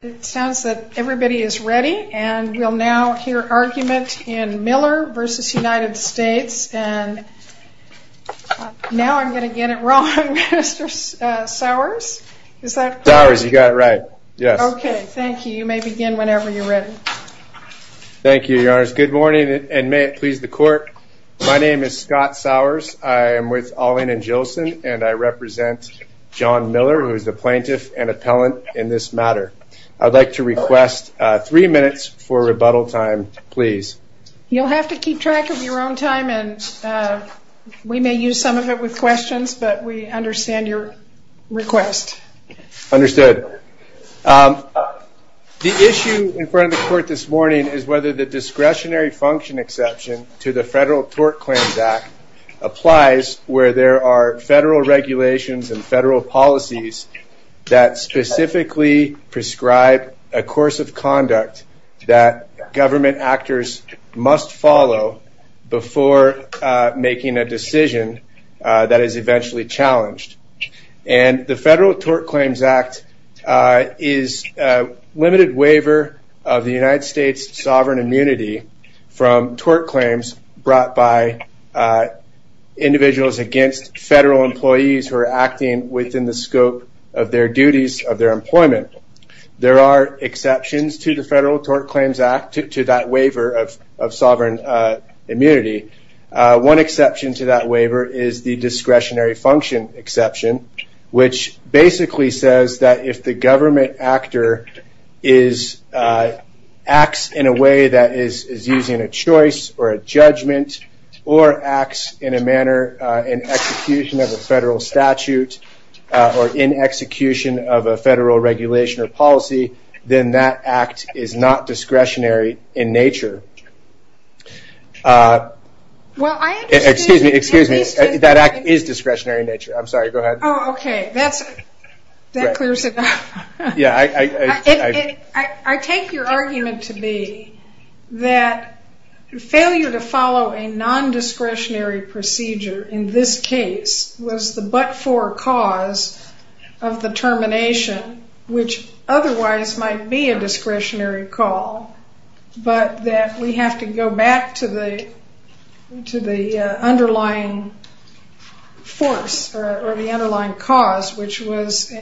It sounds that everybody is ready, and we'll now hear argument in Miller v. United States. Now I'm going to get it wrong, Mr. Sowers. Is that correct? Sowers, you got it right. Yes. Okay. Thank you. You may begin whenever you're ready. Thank you, Your Honors. Good morning, and may it please the Court. My name is Scott Sowers. I am with Ahling & Gilson, and I represent John Miller, who is the plaintiff and appellant in this matter. I'd like to request three minutes for rebuttal time, please. You'll have to keep track of your own time, and we may use some of it with questions, but we understand your request. Understood. The issue in front of the Court this morning is whether the discretionary function exception to the Federal Tort Claims Act applies where there are federal regulations and federal policies that specifically prescribe a course of conduct that government actors must follow before making a decision that is eventually challenged. And the Federal Tort Claims Act is a limited waiver of the United States' sovereign immunity from tort claims brought by individuals against federal employees who are acting within the scope of their duties of their employment. There are exceptions to the Federal Tort Claims Act, to that waiver of sovereign immunity. One exception to that waiver is the discretionary function exception, which basically says that if the government actor acts in a way that is using a choice or a judgment or acts in a manner in execution of a federal statute or in execution of a federal regulation or policy, then that act is not discretionary in nature. Excuse me, that act is discretionary in nature. I'm sorry, go ahead. Oh, okay. That clears it up. I take your argument to be that failure to follow a non-discretionary procedure in this case was the but-for cause of the termination, which otherwise might be a discretionary call, but that we have to go back to the underlying force or the underlying cause, which was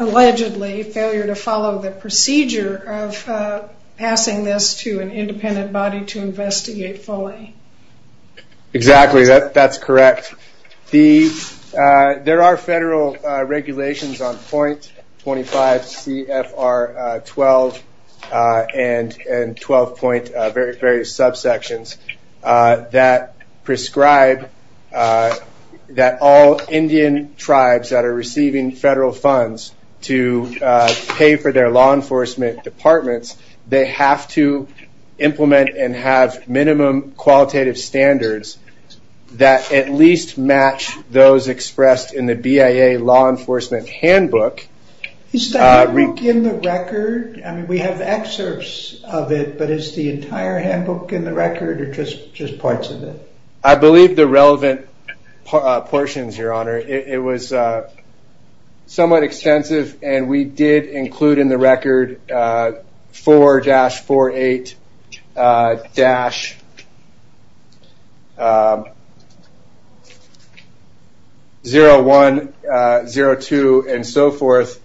allegedly failure to follow the procedure of passing this to an independent body to investigate fully. Exactly. That's correct. There are federal regulations on 0.25 CFR 12 and 12. various subsections that prescribe that all Indian tribes that are receiving federal funds to pay for their law enforcement departments, they have to implement and have minimum qualitative standards that at least match those expressed in the BIA law enforcement handbook. Is that handbook in the record? I mean, we have excerpts of it, but is the entire handbook in the record or just parts of it? I believe the relevant portions, Your Honor. It was somewhat extensive, and we did include in the record 4-48-01, 02, and so forth.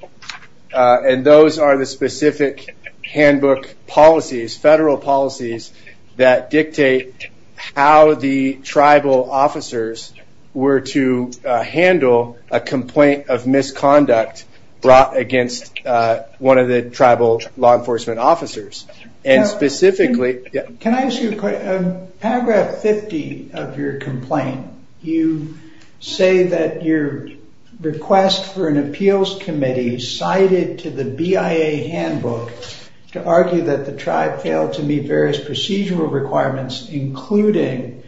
Those are the specific handbook policies, federal policies that dictate how the tribal officers were to handle a complaint of misconduct brought against one of the tribal law enforcement officers. Can I ask you a question? Paragraph 50 of your complaint, you say that your request for an appeals committee cited to the BIA handbook to argue that the tribe failed to meet various procedural requirements, including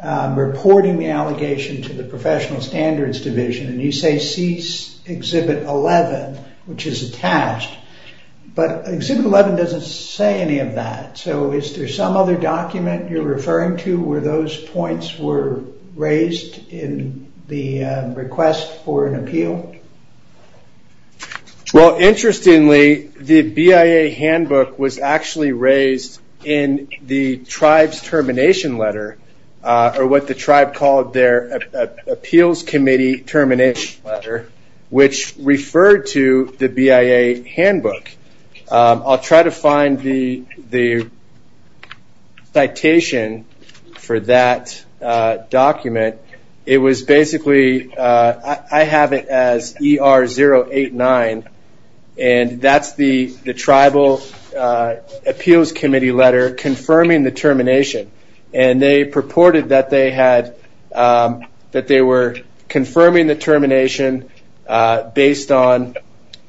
reporting the allegation to the Professional Standards Division. You say cease Exhibit 11, which is attached, but Exhibit 11 doesn't say any of that. Is there some other document you're referring to where those points were raised in the request for an appeal? Interestingly, the BIA handbook was actually raised in the tribe's termination letter, or what the tribe called their appeals committee termination letter, which referred to the BIA handbook. I'll try to find the citation for that document. It was basically, I have it as ER-089, and that's the tribal appeals committee letter confirming the termination. They purported that they were confirming the termination based on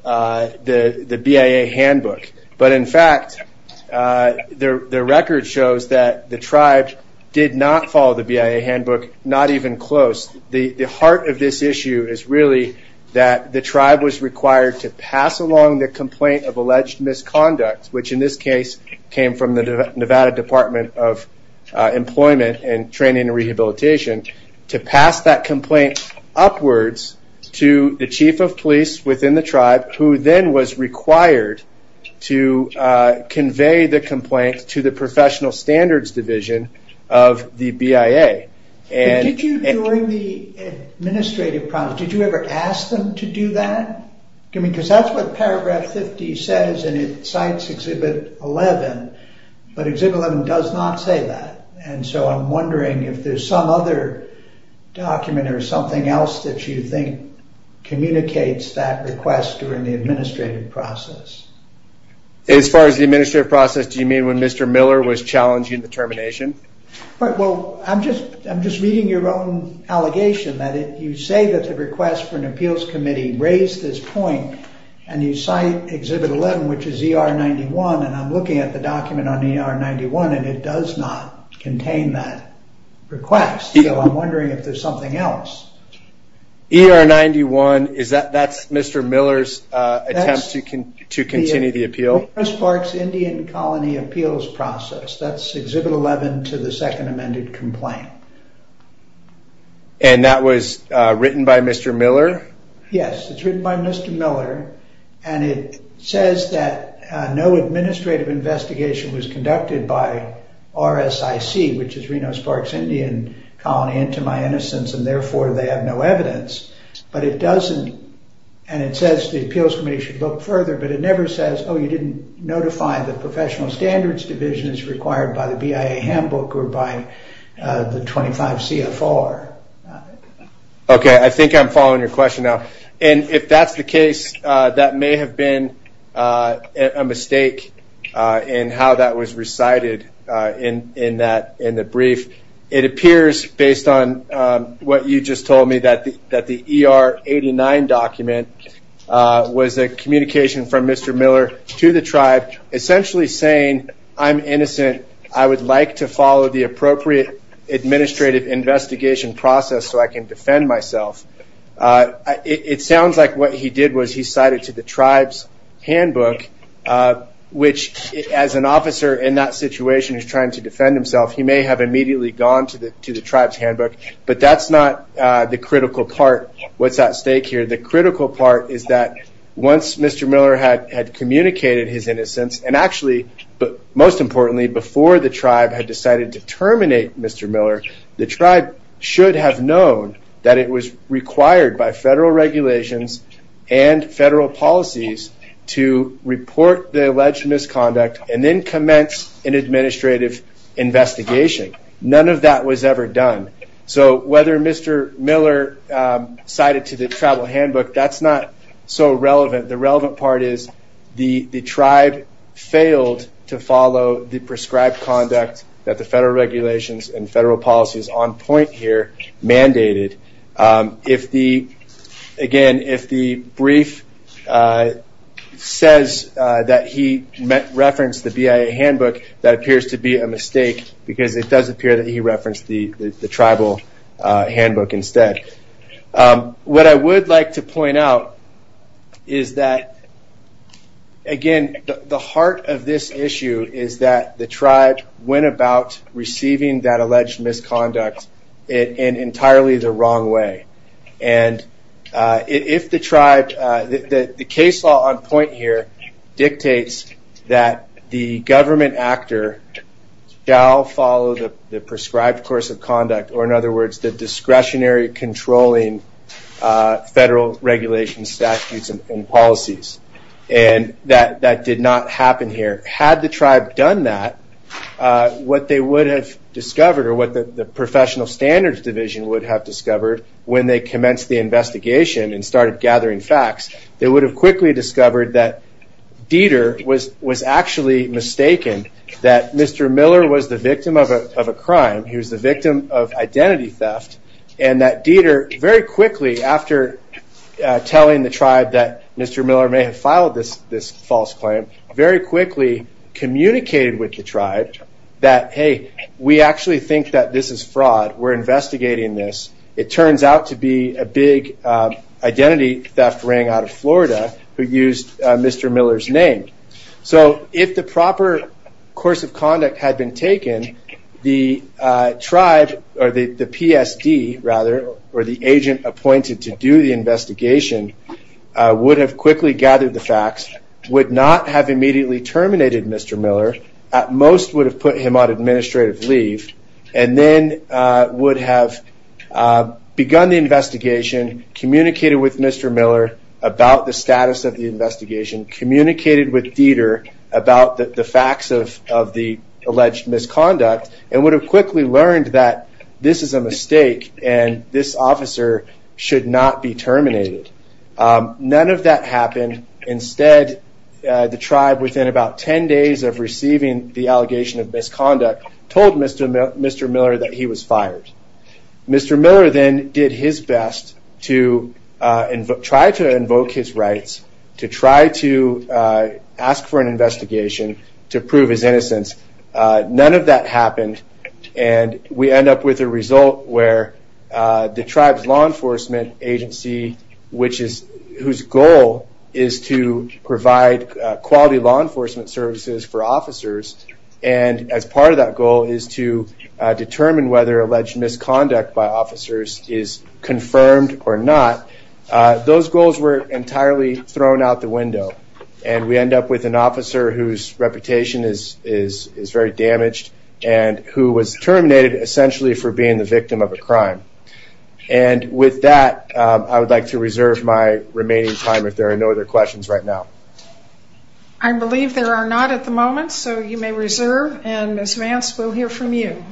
the BIA handbook. In fact, the record shows that the tribe did not follow the BIA handbook, not even close. The heart of this issue is really that the tribe was required to pass along the complaint of alleged misconduct, which in this case came from the Nevada Department of Employment and Training and Rehabilitation, to pass that complaint upwards to the chief of police within the tribe, who then was required to convey the complaint to the Professional Standards Division of the BIA. Did you, during the administrative process, did you ever ask them to do that? That's what paragraph 50 says, and it cites Exhibit 11, but Exhibit 11 does not say that. I'm wondering if there's some other document or something else that you think communicates that request during the administrative process. As far as the administrative process, do you mean when Mr. Miller was challenging the termination? I'm just reading your own allegation that if you say that the request for an appeals committee raised this point, and you cite Exhibit 11, which is ER 91, and I'm looking at the document on ER 91, and it does not contain that request. I'm wondering if there's something else. ER 91, that's Mr. Miller's attempt to continue the appeal? Reno-Sparks Indian Colony appeals process, that's Exhibit 11 to the second amended complaint. And that was written by Mr. Miller? Yes, it's written by Mr. Miller, and it says that no administrative investigation was conducted by RSIC, which is Reno-Sparks Indian Colony, into my innocence, and therefore they have no evidence. But it doesn't, and it says the appeals committee should look further, but it never says, oh, you didn't notify the professional standards division as required by the BIA handbook or by the 25 CFR. Okay, I think I'm following your question now. And if that's the case, that may have been a mistake in how that was recited in the brief. It appears, based on what you just told me, that the ER 89 document was a communication from Mr. Miller to the tribe, essentially saying, I'm innocent. I would like to follow the appropriate administrative investigation process so I can defend myself. It sounds like what he did was he cited to the tribe's handbook, which, as an officer in that situation who's trying to defend himself, he may have immediately gone to the tribe's handbook. But that's not the critical part, what's at stake here. The critical part is that once Mr. Miller had communicated his innocence, and actually, most importantly, before the tribe had decided to terminate Mr. Miller, the tribe should have known that it was required by federal regulations and federal policies to report the alleged misconduct and then commence an administrative investigation. None of that was ever done. So whether Mr. Miller cited to the tribal handbook, that's not so relevant. The relevant part is the tribe failed to follow the prescribed conduct that the federal regulations and federal policies on point here mandated. Again, if the brief says that he referenced the BIA handbook, that appears to be a mistake, because it does appear that he referenced the tribal handbook instead. What I would like to point out is that, again, the heart of this issue is that the tribe went about receiving that alleged misconduct in entirely the wrong way. And if the tribe, the case law on point here dictates that the government actor shall follow the prescribed course of conduct, or in other words, the discretionary controlling federal regulations, statutes, and policies. And that did not happen here. Had the tribe done that, what they would have discovered, or what the professional standards division would have discovered when they commenced the investigation and started gathering facts, they would have quickly discovered that Dieter was actually mistaken, that Mr. Miller was the victim of a crime. He was the victim of identity theft. And that Dieter, very quickly after telling the tribe that Mr. Miller may have filed this false claim, very quickly communicated with the tribe that, hey, we actually think that this is fraud. We're investigating this. It turns out to be a big identity theft ring out of Florida who used Mr. Miller's name. So if the proper course of conduct had been taken, the tribe, or the PSD, rather, or the agent appointed to do the investigation would have quickly gathered the facts, would not have immediately terminated Mr. Miller, at most would have put him on administrative leave, and then would have begun the investigation, communicated with Mr. Miller about the status of the investigation, communicated with Dieter about the facts of the alleged misconduct, and would have quickly learned that this is a mistake and this officer should not be terminated. None of that happened. Instead, the tribe, within about 10 days of receiving the allegation of misconduct, told Mr. Miller that he was fired. Mr. Miller then did his best to try to invoke his rights, to try to ask for an investigation to prove his innocence. None of that happened, and we end up with a result where the tribe's law enforcement agency, whose goal is to provide quality law enforcement services for officers, and as part of that goal is to determine whether alleged misconduct by officers is confirmed or not, those goals were entirely thrown out the window. And we end up with an officer whose reputation is very damaged, and who was terminated essentially for being the victim of a crime. And with that, I would like to reserve my remaining time if there are no other questions right now. I believe there are not at the moment, so you may reserve, and Ms. Vance, we'll hear from you.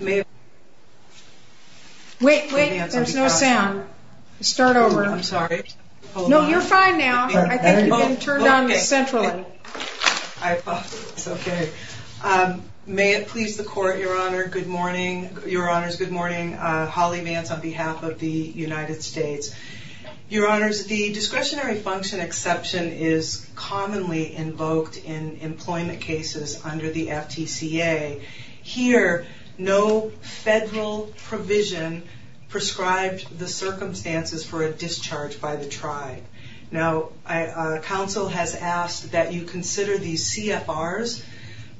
Wait, wait, there's no sound. Start over. I'm sorry. No, you're fine now. I think you can turn down the central. I thought it was okay. May it please the court, Your Honor, good morning. Your Honors, good morning. Holly Vance on behalf of the United States. Your Honors, the discretionary function exception is commonly invoked in employment cases under the FTCA. Here, no federal provision prescribed the circumstances for a discharge by the tribe. Now, counsel has asked that you consider these CFRs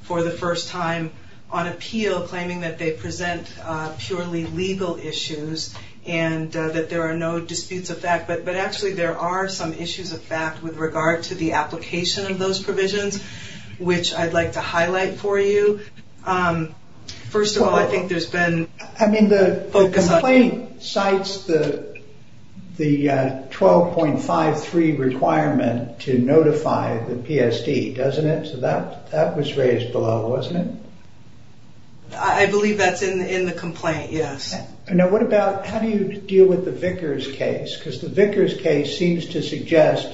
for the first time on appeal, claiming that they present purely legal issues and that there are no disputes of fact, but actually there are some issues of fact with regard to the application of those provisions, which I'd like to highlight for you. First of all, I think there's been... I mean, the complaint cites the 12.53 requirement to notify the PSD, doesn't it? So that was raised below, wasn't it? I believe that's in the complaint, yes. Now, what about, how do you deal with the Vickers case? Because the Vickers case seems to suggest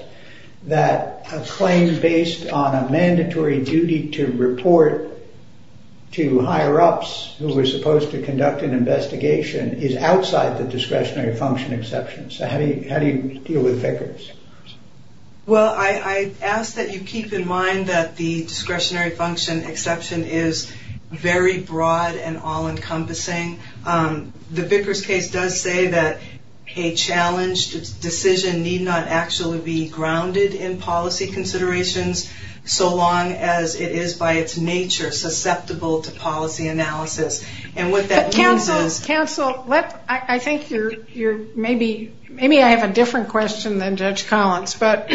that a claim based on a mandatory duty to report to higher-ups who were supposed to conduct an investigation is outside the discretionary function exception. So how do you deal with Vickers? Well, I ask that you keep in mind that the discretionary function exception is very broad and all-encompassing. The Vickers case does say that a challenged decision need not actually be grounded in policy considerations so long as it is by its nature susceptible to policy analysis. And what that means is... Counsel, I think you're maybe... Maybe I have a different question than Judge Collins, but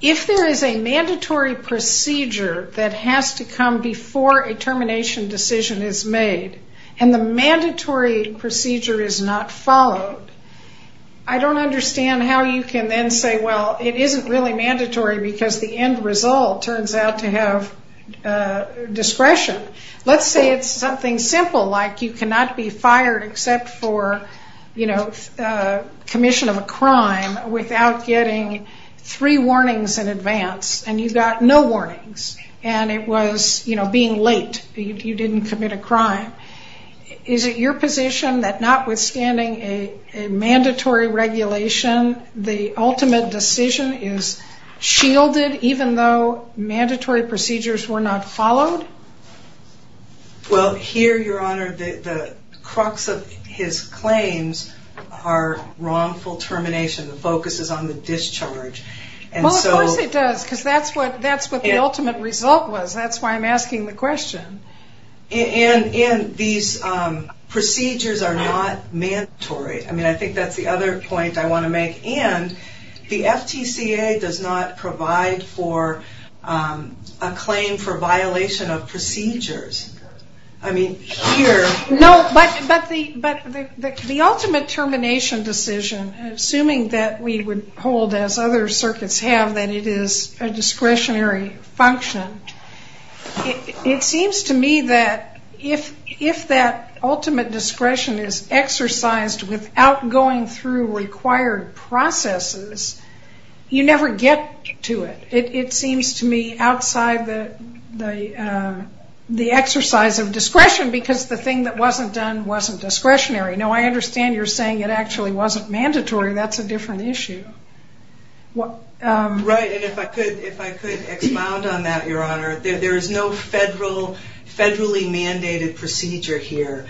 if there is a mandatory procedure that has to come before a termination decision is made, and the mandatory procedure is not followed, I don't understand how you can then say, well, it isn't really mandatory because the end result turns out to have discretion. Let's say it's something simple like you cannot be fired except for commission of a crime without getting three warnings in advance, and you got no warnings. And it was being late. You didn't commit a crime. Is it your position that notwithstanding a mandatory regulation, the ultimate decision is shielded even though mandatory procedures were not followed? Well, here, Your Honor, the crux of his claims are wrongful termination. The focus is on the discharge. Well, of course it does because that's what the ultimate result was. That's why I'm asking the question. And these procedures are not mandatory. I mean, I think that's the other point I want to make. And the FTCA does not provide for a claim for violation of procedures. I mean, here... No, but the ultimate termination decision, assuming that we would hold as other circuits have that it is a discretionary function, it seems to me that if that ultimate discretion is exercised without going through required processes, you never get to it. It seems to me outside the exercise of discretion because the thing that wasn't done wasn't discretionary. Now, I understand you're saying it actually wasn't mandatory. That's a different issue. Right, and if I could expound on that, Your Honor. There is no federally mandated procedure here.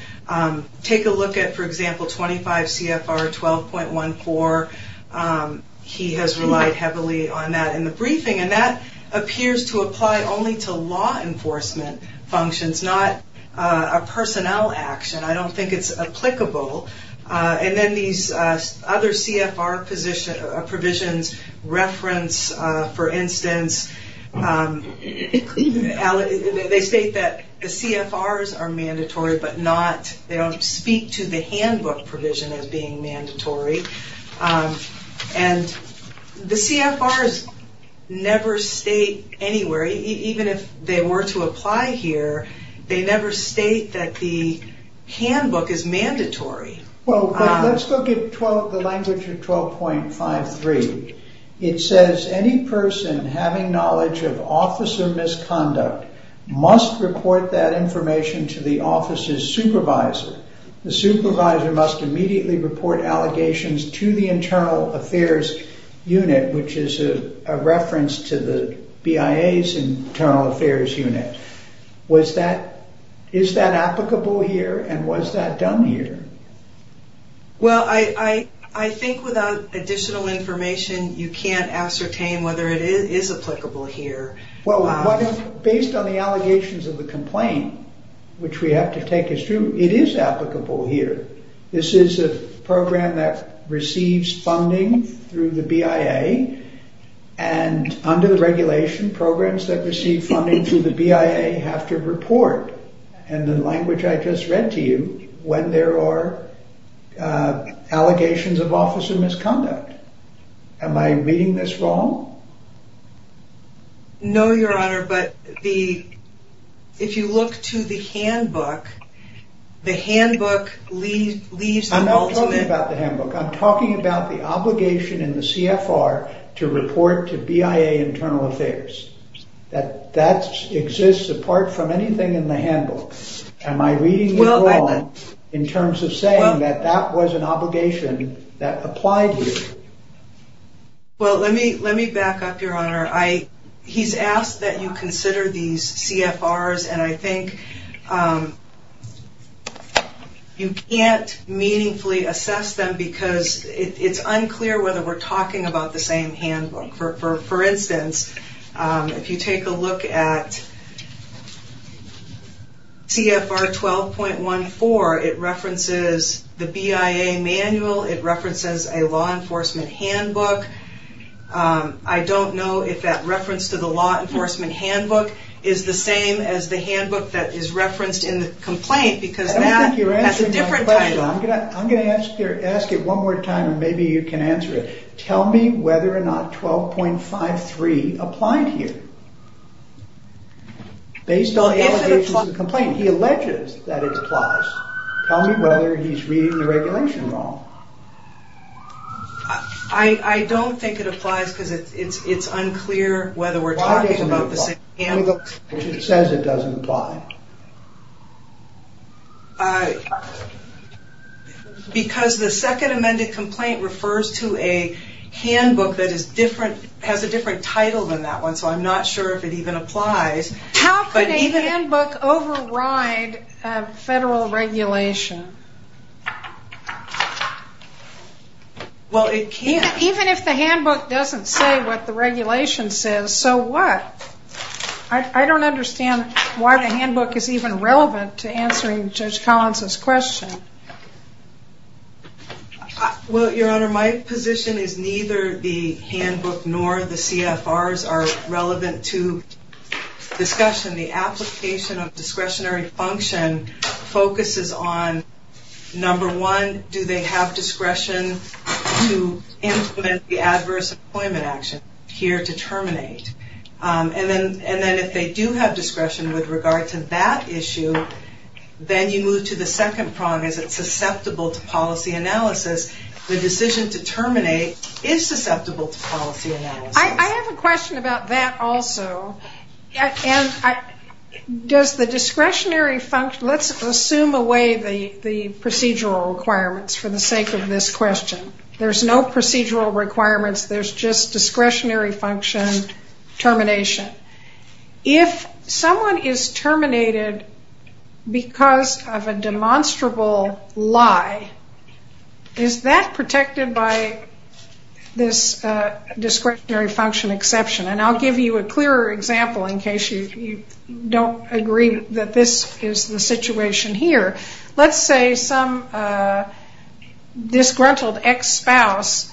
Take a look at, for example, 25 CFR 12.14. He has relied heavily on that in the briefing, and that appears to apply only to law enforcement functions, not a personnel action. I don't think it's applicable. And then these other CFR provisions reference, for instance, they state that the CFRs are mandatory, but they don't speak to the handbook provision as being mandatory. And the CFRs never state anywhere, even if they were to apply here, they never state that the handbook is mandatory. Well, let's look at the language of 12.53. It says, any person having knowledge of officer misconduct must report that information to the office's supervisor. The supervisor must immediately report allegations to the Internal Affairs Unit, which is a reference to the BIA's Internal Affairs Unit. Is that applicable here, and was that done here? Well, I think without additional information, you can't ascertain whether it is applicable here. Based on the allegations of the complaint, which we have to take as true, it is applicable here. This is a program that receives funding through the BIA, and under the regulation, programs that receive funding through the BIA have to report, in the language I just read to you, when there are allegations of officer misconduct. Am I reading this wrong? No, Your Honor, but if you look to the handbook, the handbook leaves the ultimate... I'm not talking about the handbook. I'm talking about the obligation in the CFR to report to BIA Internal Affairs. That exists apart from anything in the handbook. Am I reading this wrong in terms of saying that that was an obligation that applied here? Well, let me back up, Your Honor. He's asked that you consider these CFRs, and I think you can't meaningfully assess them because it's unclear whether we're talking about the same handbook. For instance, if you take a look at CFR 12.14, it references the BIA manual. It references a law enforcement handbook. I don't know if that reference to the law enforcement handbook is the same as the handbook that is referenced in the complaint because that has a different title. I don't think you're answering my question. I'm going to ask it one more time, and maybe you can answer it. Tell me whether or not 12.53 applied here. Based on allegations in the complaint, he alleges that it applies. Tell me whether he's reading the regulation wrong. I don't think it applies because it's unclear whether we're talking about the same handbook. Why doesn't it apply? Because it says it doesn't apply. Because the second amended complaint refers to a handbook that has a different title than that one, so I'm not sure if it even applies. How could a handbook override federal regulation? Well, it can't. Even if the handbook doesn't say what the regulation says, so what? I don't understand why the handbook is even relevant to answering Judge Collins' question. Well, Your Honor, my position is neither the handbook nor the CFRs are relevant to discussion. The application of discretionary function focuses on, number one, do they have discretion to implement the adverse employment action here to terminate? And then if they do have discretion with regard to that issue, then you move to the second prong, is it susceptible to policy analysis? The decision to terminate is susceptible to policy analysis. I have a question about that also. Let's assume away the procedural requirements for the sake of this question. There's no procedural requirements. There's just discretionary function termination. If someone is terminated because of a demonstrable lie, is that protected by this discretionary function exception? And I'll give you a clearer example in case you don't agree that this is the situation here. Let's say some disgruntled ex-spouse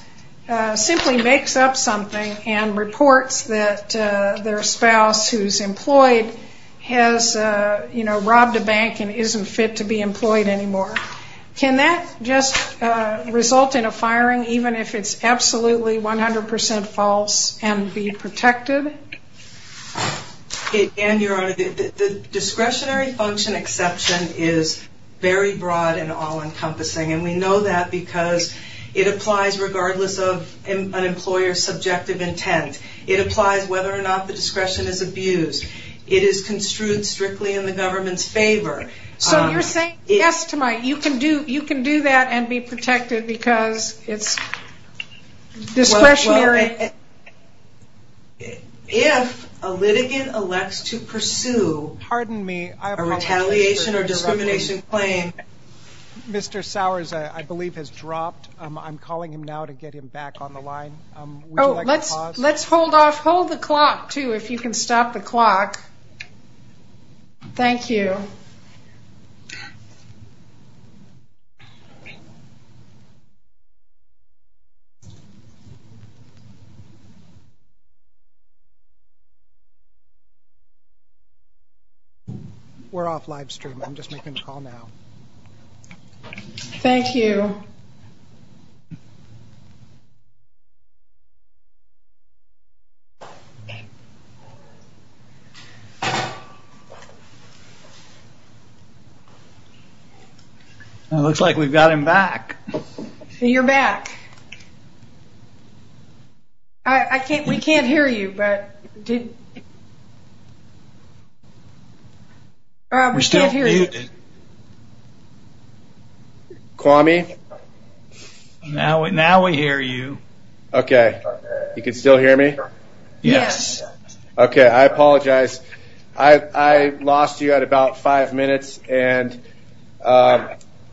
simply makes up something and reports that their spouse who's employed has robbed a bank and isn't fit to be employed anymore. Can that just result in a firing even if it's absolutely 100% false and be protected? The discretionary function exception is very broad and all-encompassing. And we know that because it applies regardless of an employer's subjective intent. It applies whether or not the discretion is abused. So you're saying yes to my, you can do that and be protected because it's discretionary. If a litigant elects to pursue a retaliation or discrimination claim, Mr. Sowers, I believe, has dropped. I'm calling him now to get him back on the line. Let's hold the clock, too, if you can stop the clock. Thank you. We're off live stream. I'm just making a call now. Thank you. It looks like we've got him back. You're back. We can't hear you. We still can't hear you. Kwame? Now we hear you. Okay. You can still hear me? Yes. Okay. I apologize. I lost you at about five minutes, and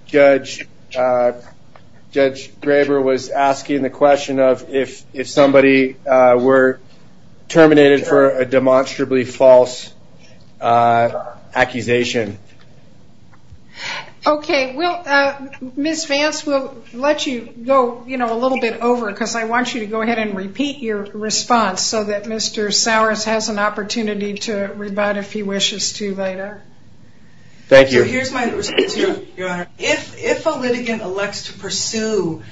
Judge Graber was asking the question of if somebody were terminated for a demonstrably false accusation. Okay. Ms. Vance, we'll let you go a little bit over because I want you to go ahead and repeat your response so that Mr. Sowers has an opportunity to rebut if he wishes to later. Thank you. Here's my response, Your Honor. If a litigant elects to pursue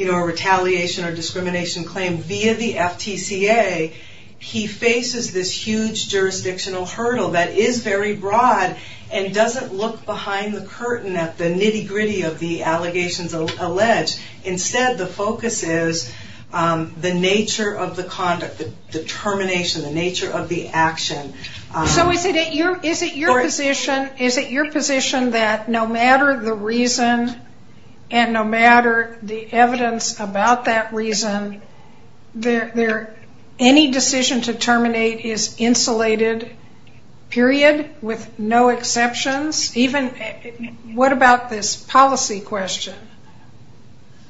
a retaliation or discrimination claim via the FTCA, he faces this huge jurisdictional hurdle that is very broad and doesn't look behind the curtain at the nitty-gritty of the allegations alleged. Instead, the focus is the nature of the conduct, the termination, the nature of the action. So is it your position that no matter the reason and no matter the evidence about that reason, any decision to terminate is insulated, period, with no exceptions? What about this policy question?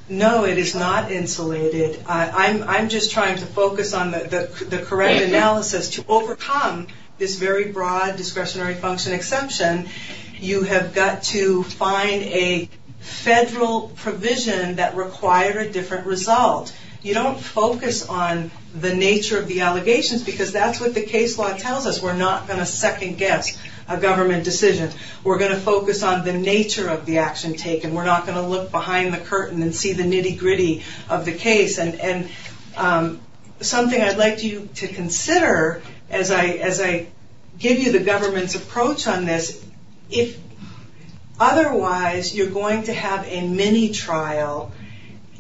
No, it is not insulated. I'm just trying to focus on the correct analysis. To overcome this very broad discretionary function exemption, you have got to find a federal provision that requires a different result. You don't focus on the nature of the allegations because that's what the case law tells us. We're not going to second-guess a government decision. We're going to focus on the nature of the action taken. We're not going to look behind the curtain and see the nitty-gritty of the case. Something I'd like you to consider as I give you the government's approach on this, if otherwise you're going to have a mini-trial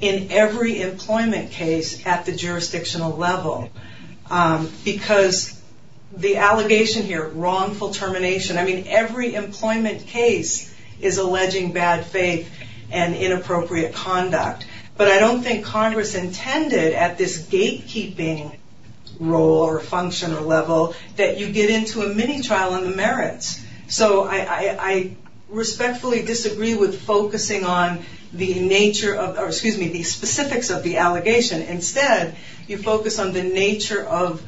in every employment case at the jurisdictional level because the allegation here, wrongful termination, I mean every employment case is alleging bad faith and inappropriate conduct. But I don't think Congress intended at this gatekeeping role or function or level that you get into a mini-trial on the merits. So I respectfully disagree with focusing on the specifics of the allegation. Instead, you focus on the nature of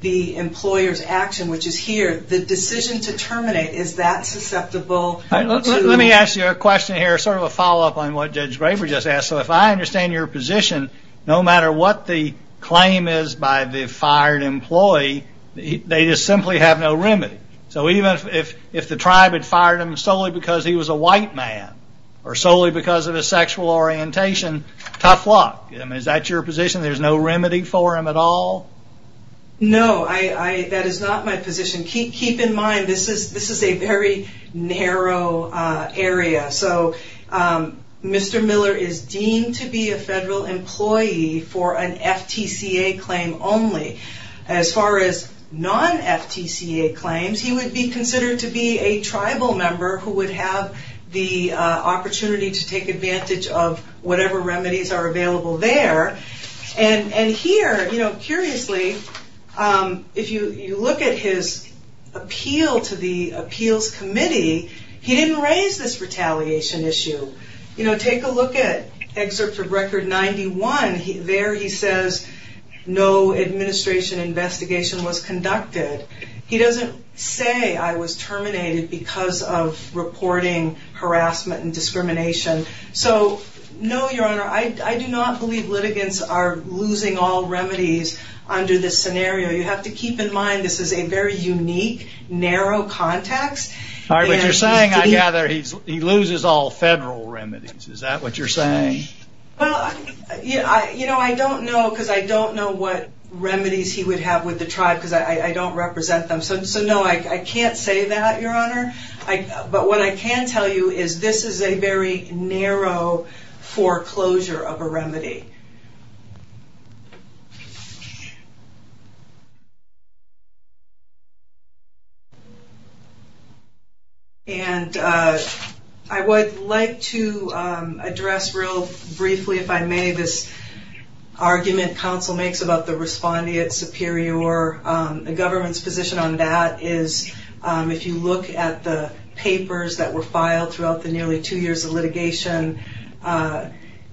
the employer's action, which is here. The decision to terminate, is that susceptible? Let me ask you a question here, sort of a follow-up on what Judge Graber just asked. So if I understand your position, no matter what the claim is by the fired employee, they just simply have no remedy. So even if the tribe had fired him solely because he was a white man or solely because of his sexual orientation, tough luck. Is that your position, there's no remedy for him at all? No, that is not my position. Keep in mind, this is a very narrow area. So Mr. Miller is deemed to be a federal employee for an FTCA claim only. As far as non-FTCA claims, he would be considered to be a tribal member who would have the opportunity to take advantage of whatever remedies are available there. And here, curiously, if you look at his appeal to the appeals committee, he didn't raise this retaliation issue. Take a look at Excerpt of Record 91. There he says, no administration investigation was conducted. He doesn't say I was terminated because of reporting harassment and discrimination. So no, Your Honor, I do not believe litigants are losing all remedies under this scenario. You have to keep in mind this is a very unique, narrow context. All right, but you're saying, I gather, he loses all federal remedies. Is that what you're saying? Well, you know, I don't know because I don't know what remedies he would have with the tribe because I don't represent them. So no, I can't say that, Your Honor. But what I can tell you is this is a very narrow foreclosure of a remedy. And I would like to address real briefly, if I may, this argument counsel makes about the respondeat superior. The government's position on that is if you look at the papers that were filed throughout the nearly two years of litigation,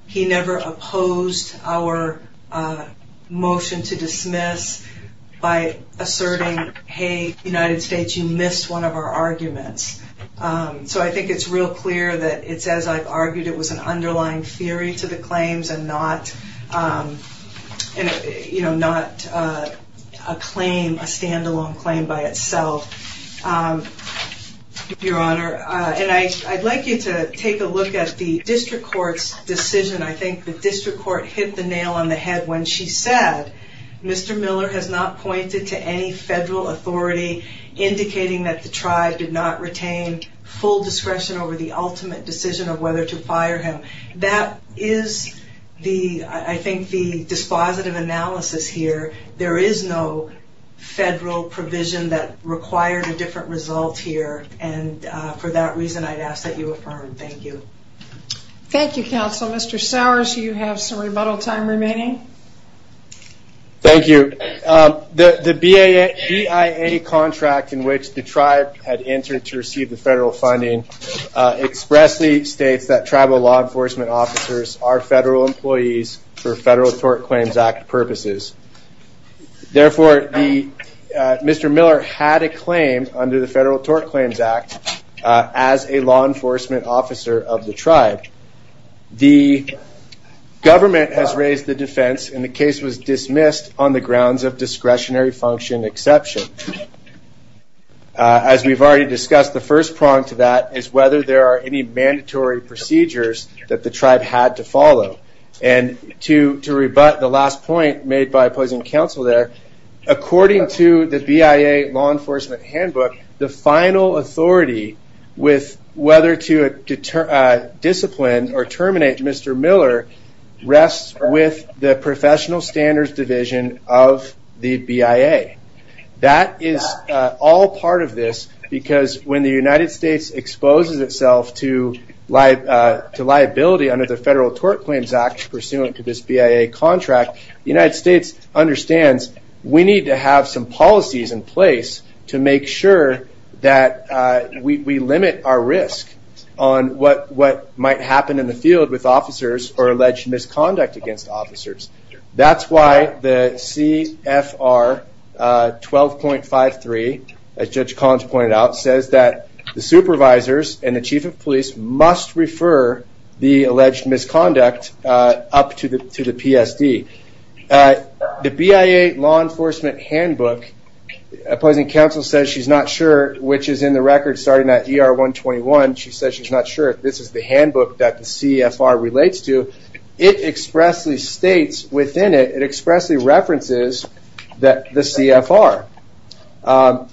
he never opposed our motion to dismiss by asserting, hey, United States, you missed one of our arguments. So I think it's real clear that it's as I've argued, it was an underlying theory to the claims and not a claim, a standalone claim by itself, Your Honor. And I'd like you to take a look at the district court's decision. I think the district court hit the nail on the head when she said, Mr. Miller has not pointed to any federal authority indicating that the tribe did not retain full discretion over the ultimate decision of whether to fire him. That is, I think, the dispositive analysis here. There is no federal provision that required a different result here. And for that reason, I'd ask that you affirm. Thank you. Thank you, counsel. Mr. Sowers, you have some rebuttal time remaining. Thank you. The BIA contract in which the tribe had entered to receive the federal funding expressly states that tribal law enforcement officers are federal employees for Federal Tort Claims Act purposes. Therefore, Mr. Miller had a claim under the Federal Tort Claims Act as a law enforcement officer of the tribe. The government has raised the defense, and the case was dismissed on the grounds of discretionary function exception. As we've already discussed, the first prong to that is whether there are any mandatory procedures that the tribe had to follow. And to rebut the last point made by opposing counsel there, according to the BIA law enforcement handbook, the final authority with whether to discipline or terminate Mr. Miller rests with the Professional Standards Division of the BIA. That is all part of this because when the United States exposes itself to liability under the Federal Tort Claims Act pursuant to this BIA contract, the United States understands we need to have some policies in place to make sure that we limit our risk on what might happen in the field with officers or alleged misconduct against officers. That's why the CFR 12.53, as Judge Collins pointed out, says that the supervisors and the chief of police must refer the alleged misconduct up to the PSD. The BIA law enforcement handbook, opposing counsel says she's not sure, which is in the record starting at ER 121. She says she's not sure if this is the handbook that the CFR relates to. It expressly states within it, it expressly references the CFR.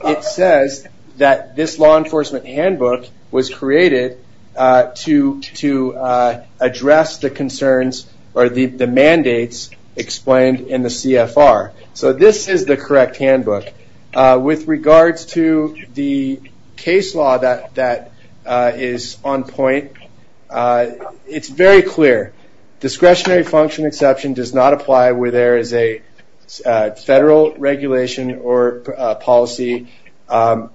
It says that this law enforcement handbook was created to address the concerns or the mandates explained in the CFR. So this is the correct handbook. With regards to the case law that is on point, it's very clear. Discretionary function exception does not apply where there is a federal regulation or policy on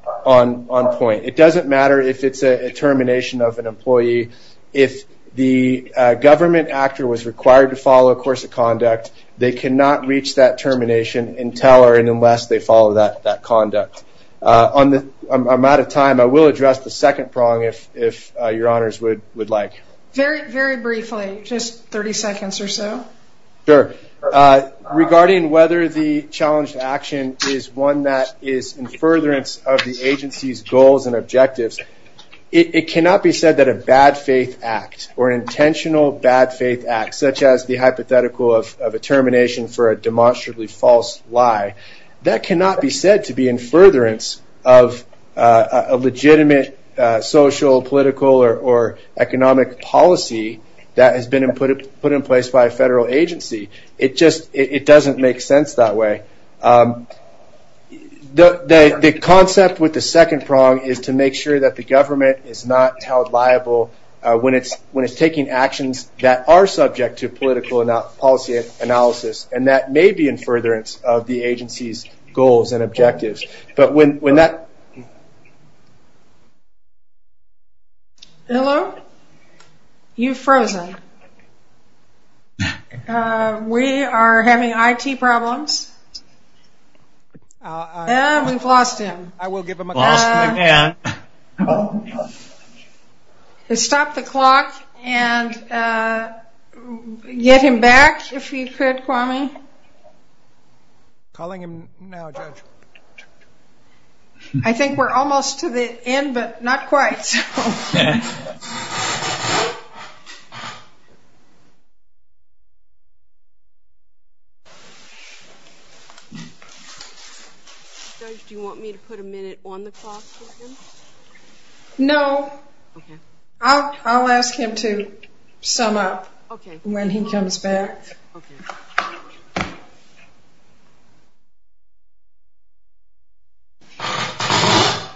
point. It doesn't matter if it's a termination of an employee. If the government actor was required to follow a course of conduct, they cannot reach that termination until or unless they follow that conduct. I'm out of time. I will address the second prong if your honors would like. Very briefly, just 30 seconds or so. Sure. Regarding whether the challenge to action is one that is in furtherance of the agency's goals and objectives, it cannot be said that a bad faith act or an intentional bad faith act, such as the hypothetical of a termination for a demonstrably false lie, that cannot be said to be in furtherance of a legitimate social, political, or economic policy that has been put in place by a federal agency. It doesn't make sense that way. The concept with the second prong is to make sure that the government is not held liable when it's taking actions that are subject to political and policy analysis, and that may be in furtherance of the agency's goals and objectives. Hello? You've frozen. We are having IT problems. We've lost him. I will give him a call. Stop the clock and get him back if you could, Kwame. Calling him now, Judge. I think we're almost to the end, but not quite. Okay. Judge, do you want me to put a minute on the clock for him? No. I'll ask him to sum up when he comes back. Okay. I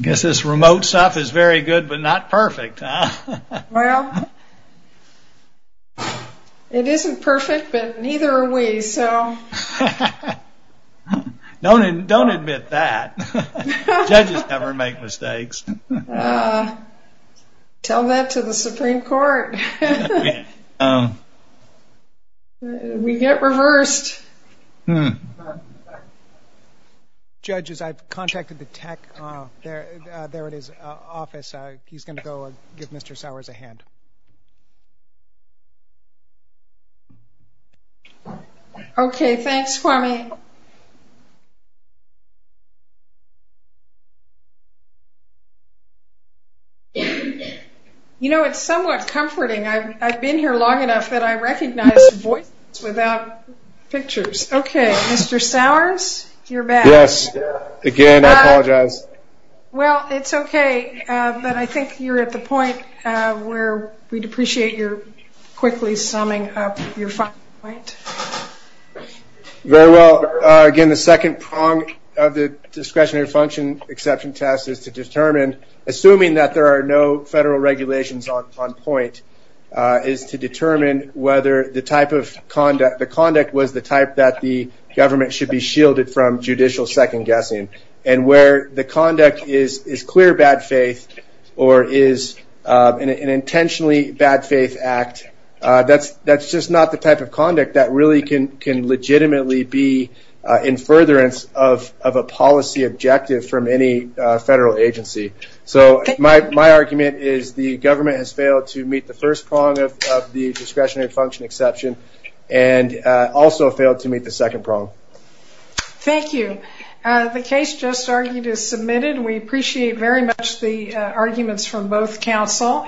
guess this remote stuff is very good, but not perfect. Well, it isn't perfect, but neither are we. Don't admit that. Judges never make mistakes. Tell that to the Supreme Court. We get reversed. Judges, I've contacted the tech. There it is, office. He's going to go and give Mr. Sowers a hand. Okay. Thanks, Kwame. You know, it's somewhat comforting. Okay. Mr. Sowers, you're back. Yes. Again, I apologize. Well, it's okay, but I think you're at the point where we'd appreciate your quickly summing up your final point. Very well. Again, the second prong of the discretionary function exception test is to determine, assuming that there are no federal regulations on point, is to determine whether the conduct was the type that the government should be shielded from judicial second-guessing. And where the conduct is clear bad faith or is an intentionally bad faith act, that's just not the type of conduct that really can legitimately be in furtherance of a policy objective from any federal agency. So my argument is the government has failed to meet the first prong of the discretionary function exception and also failed to meet the second prong. Thank you. The case just argued is submitted. We appreciate very much the arguments from both counsel.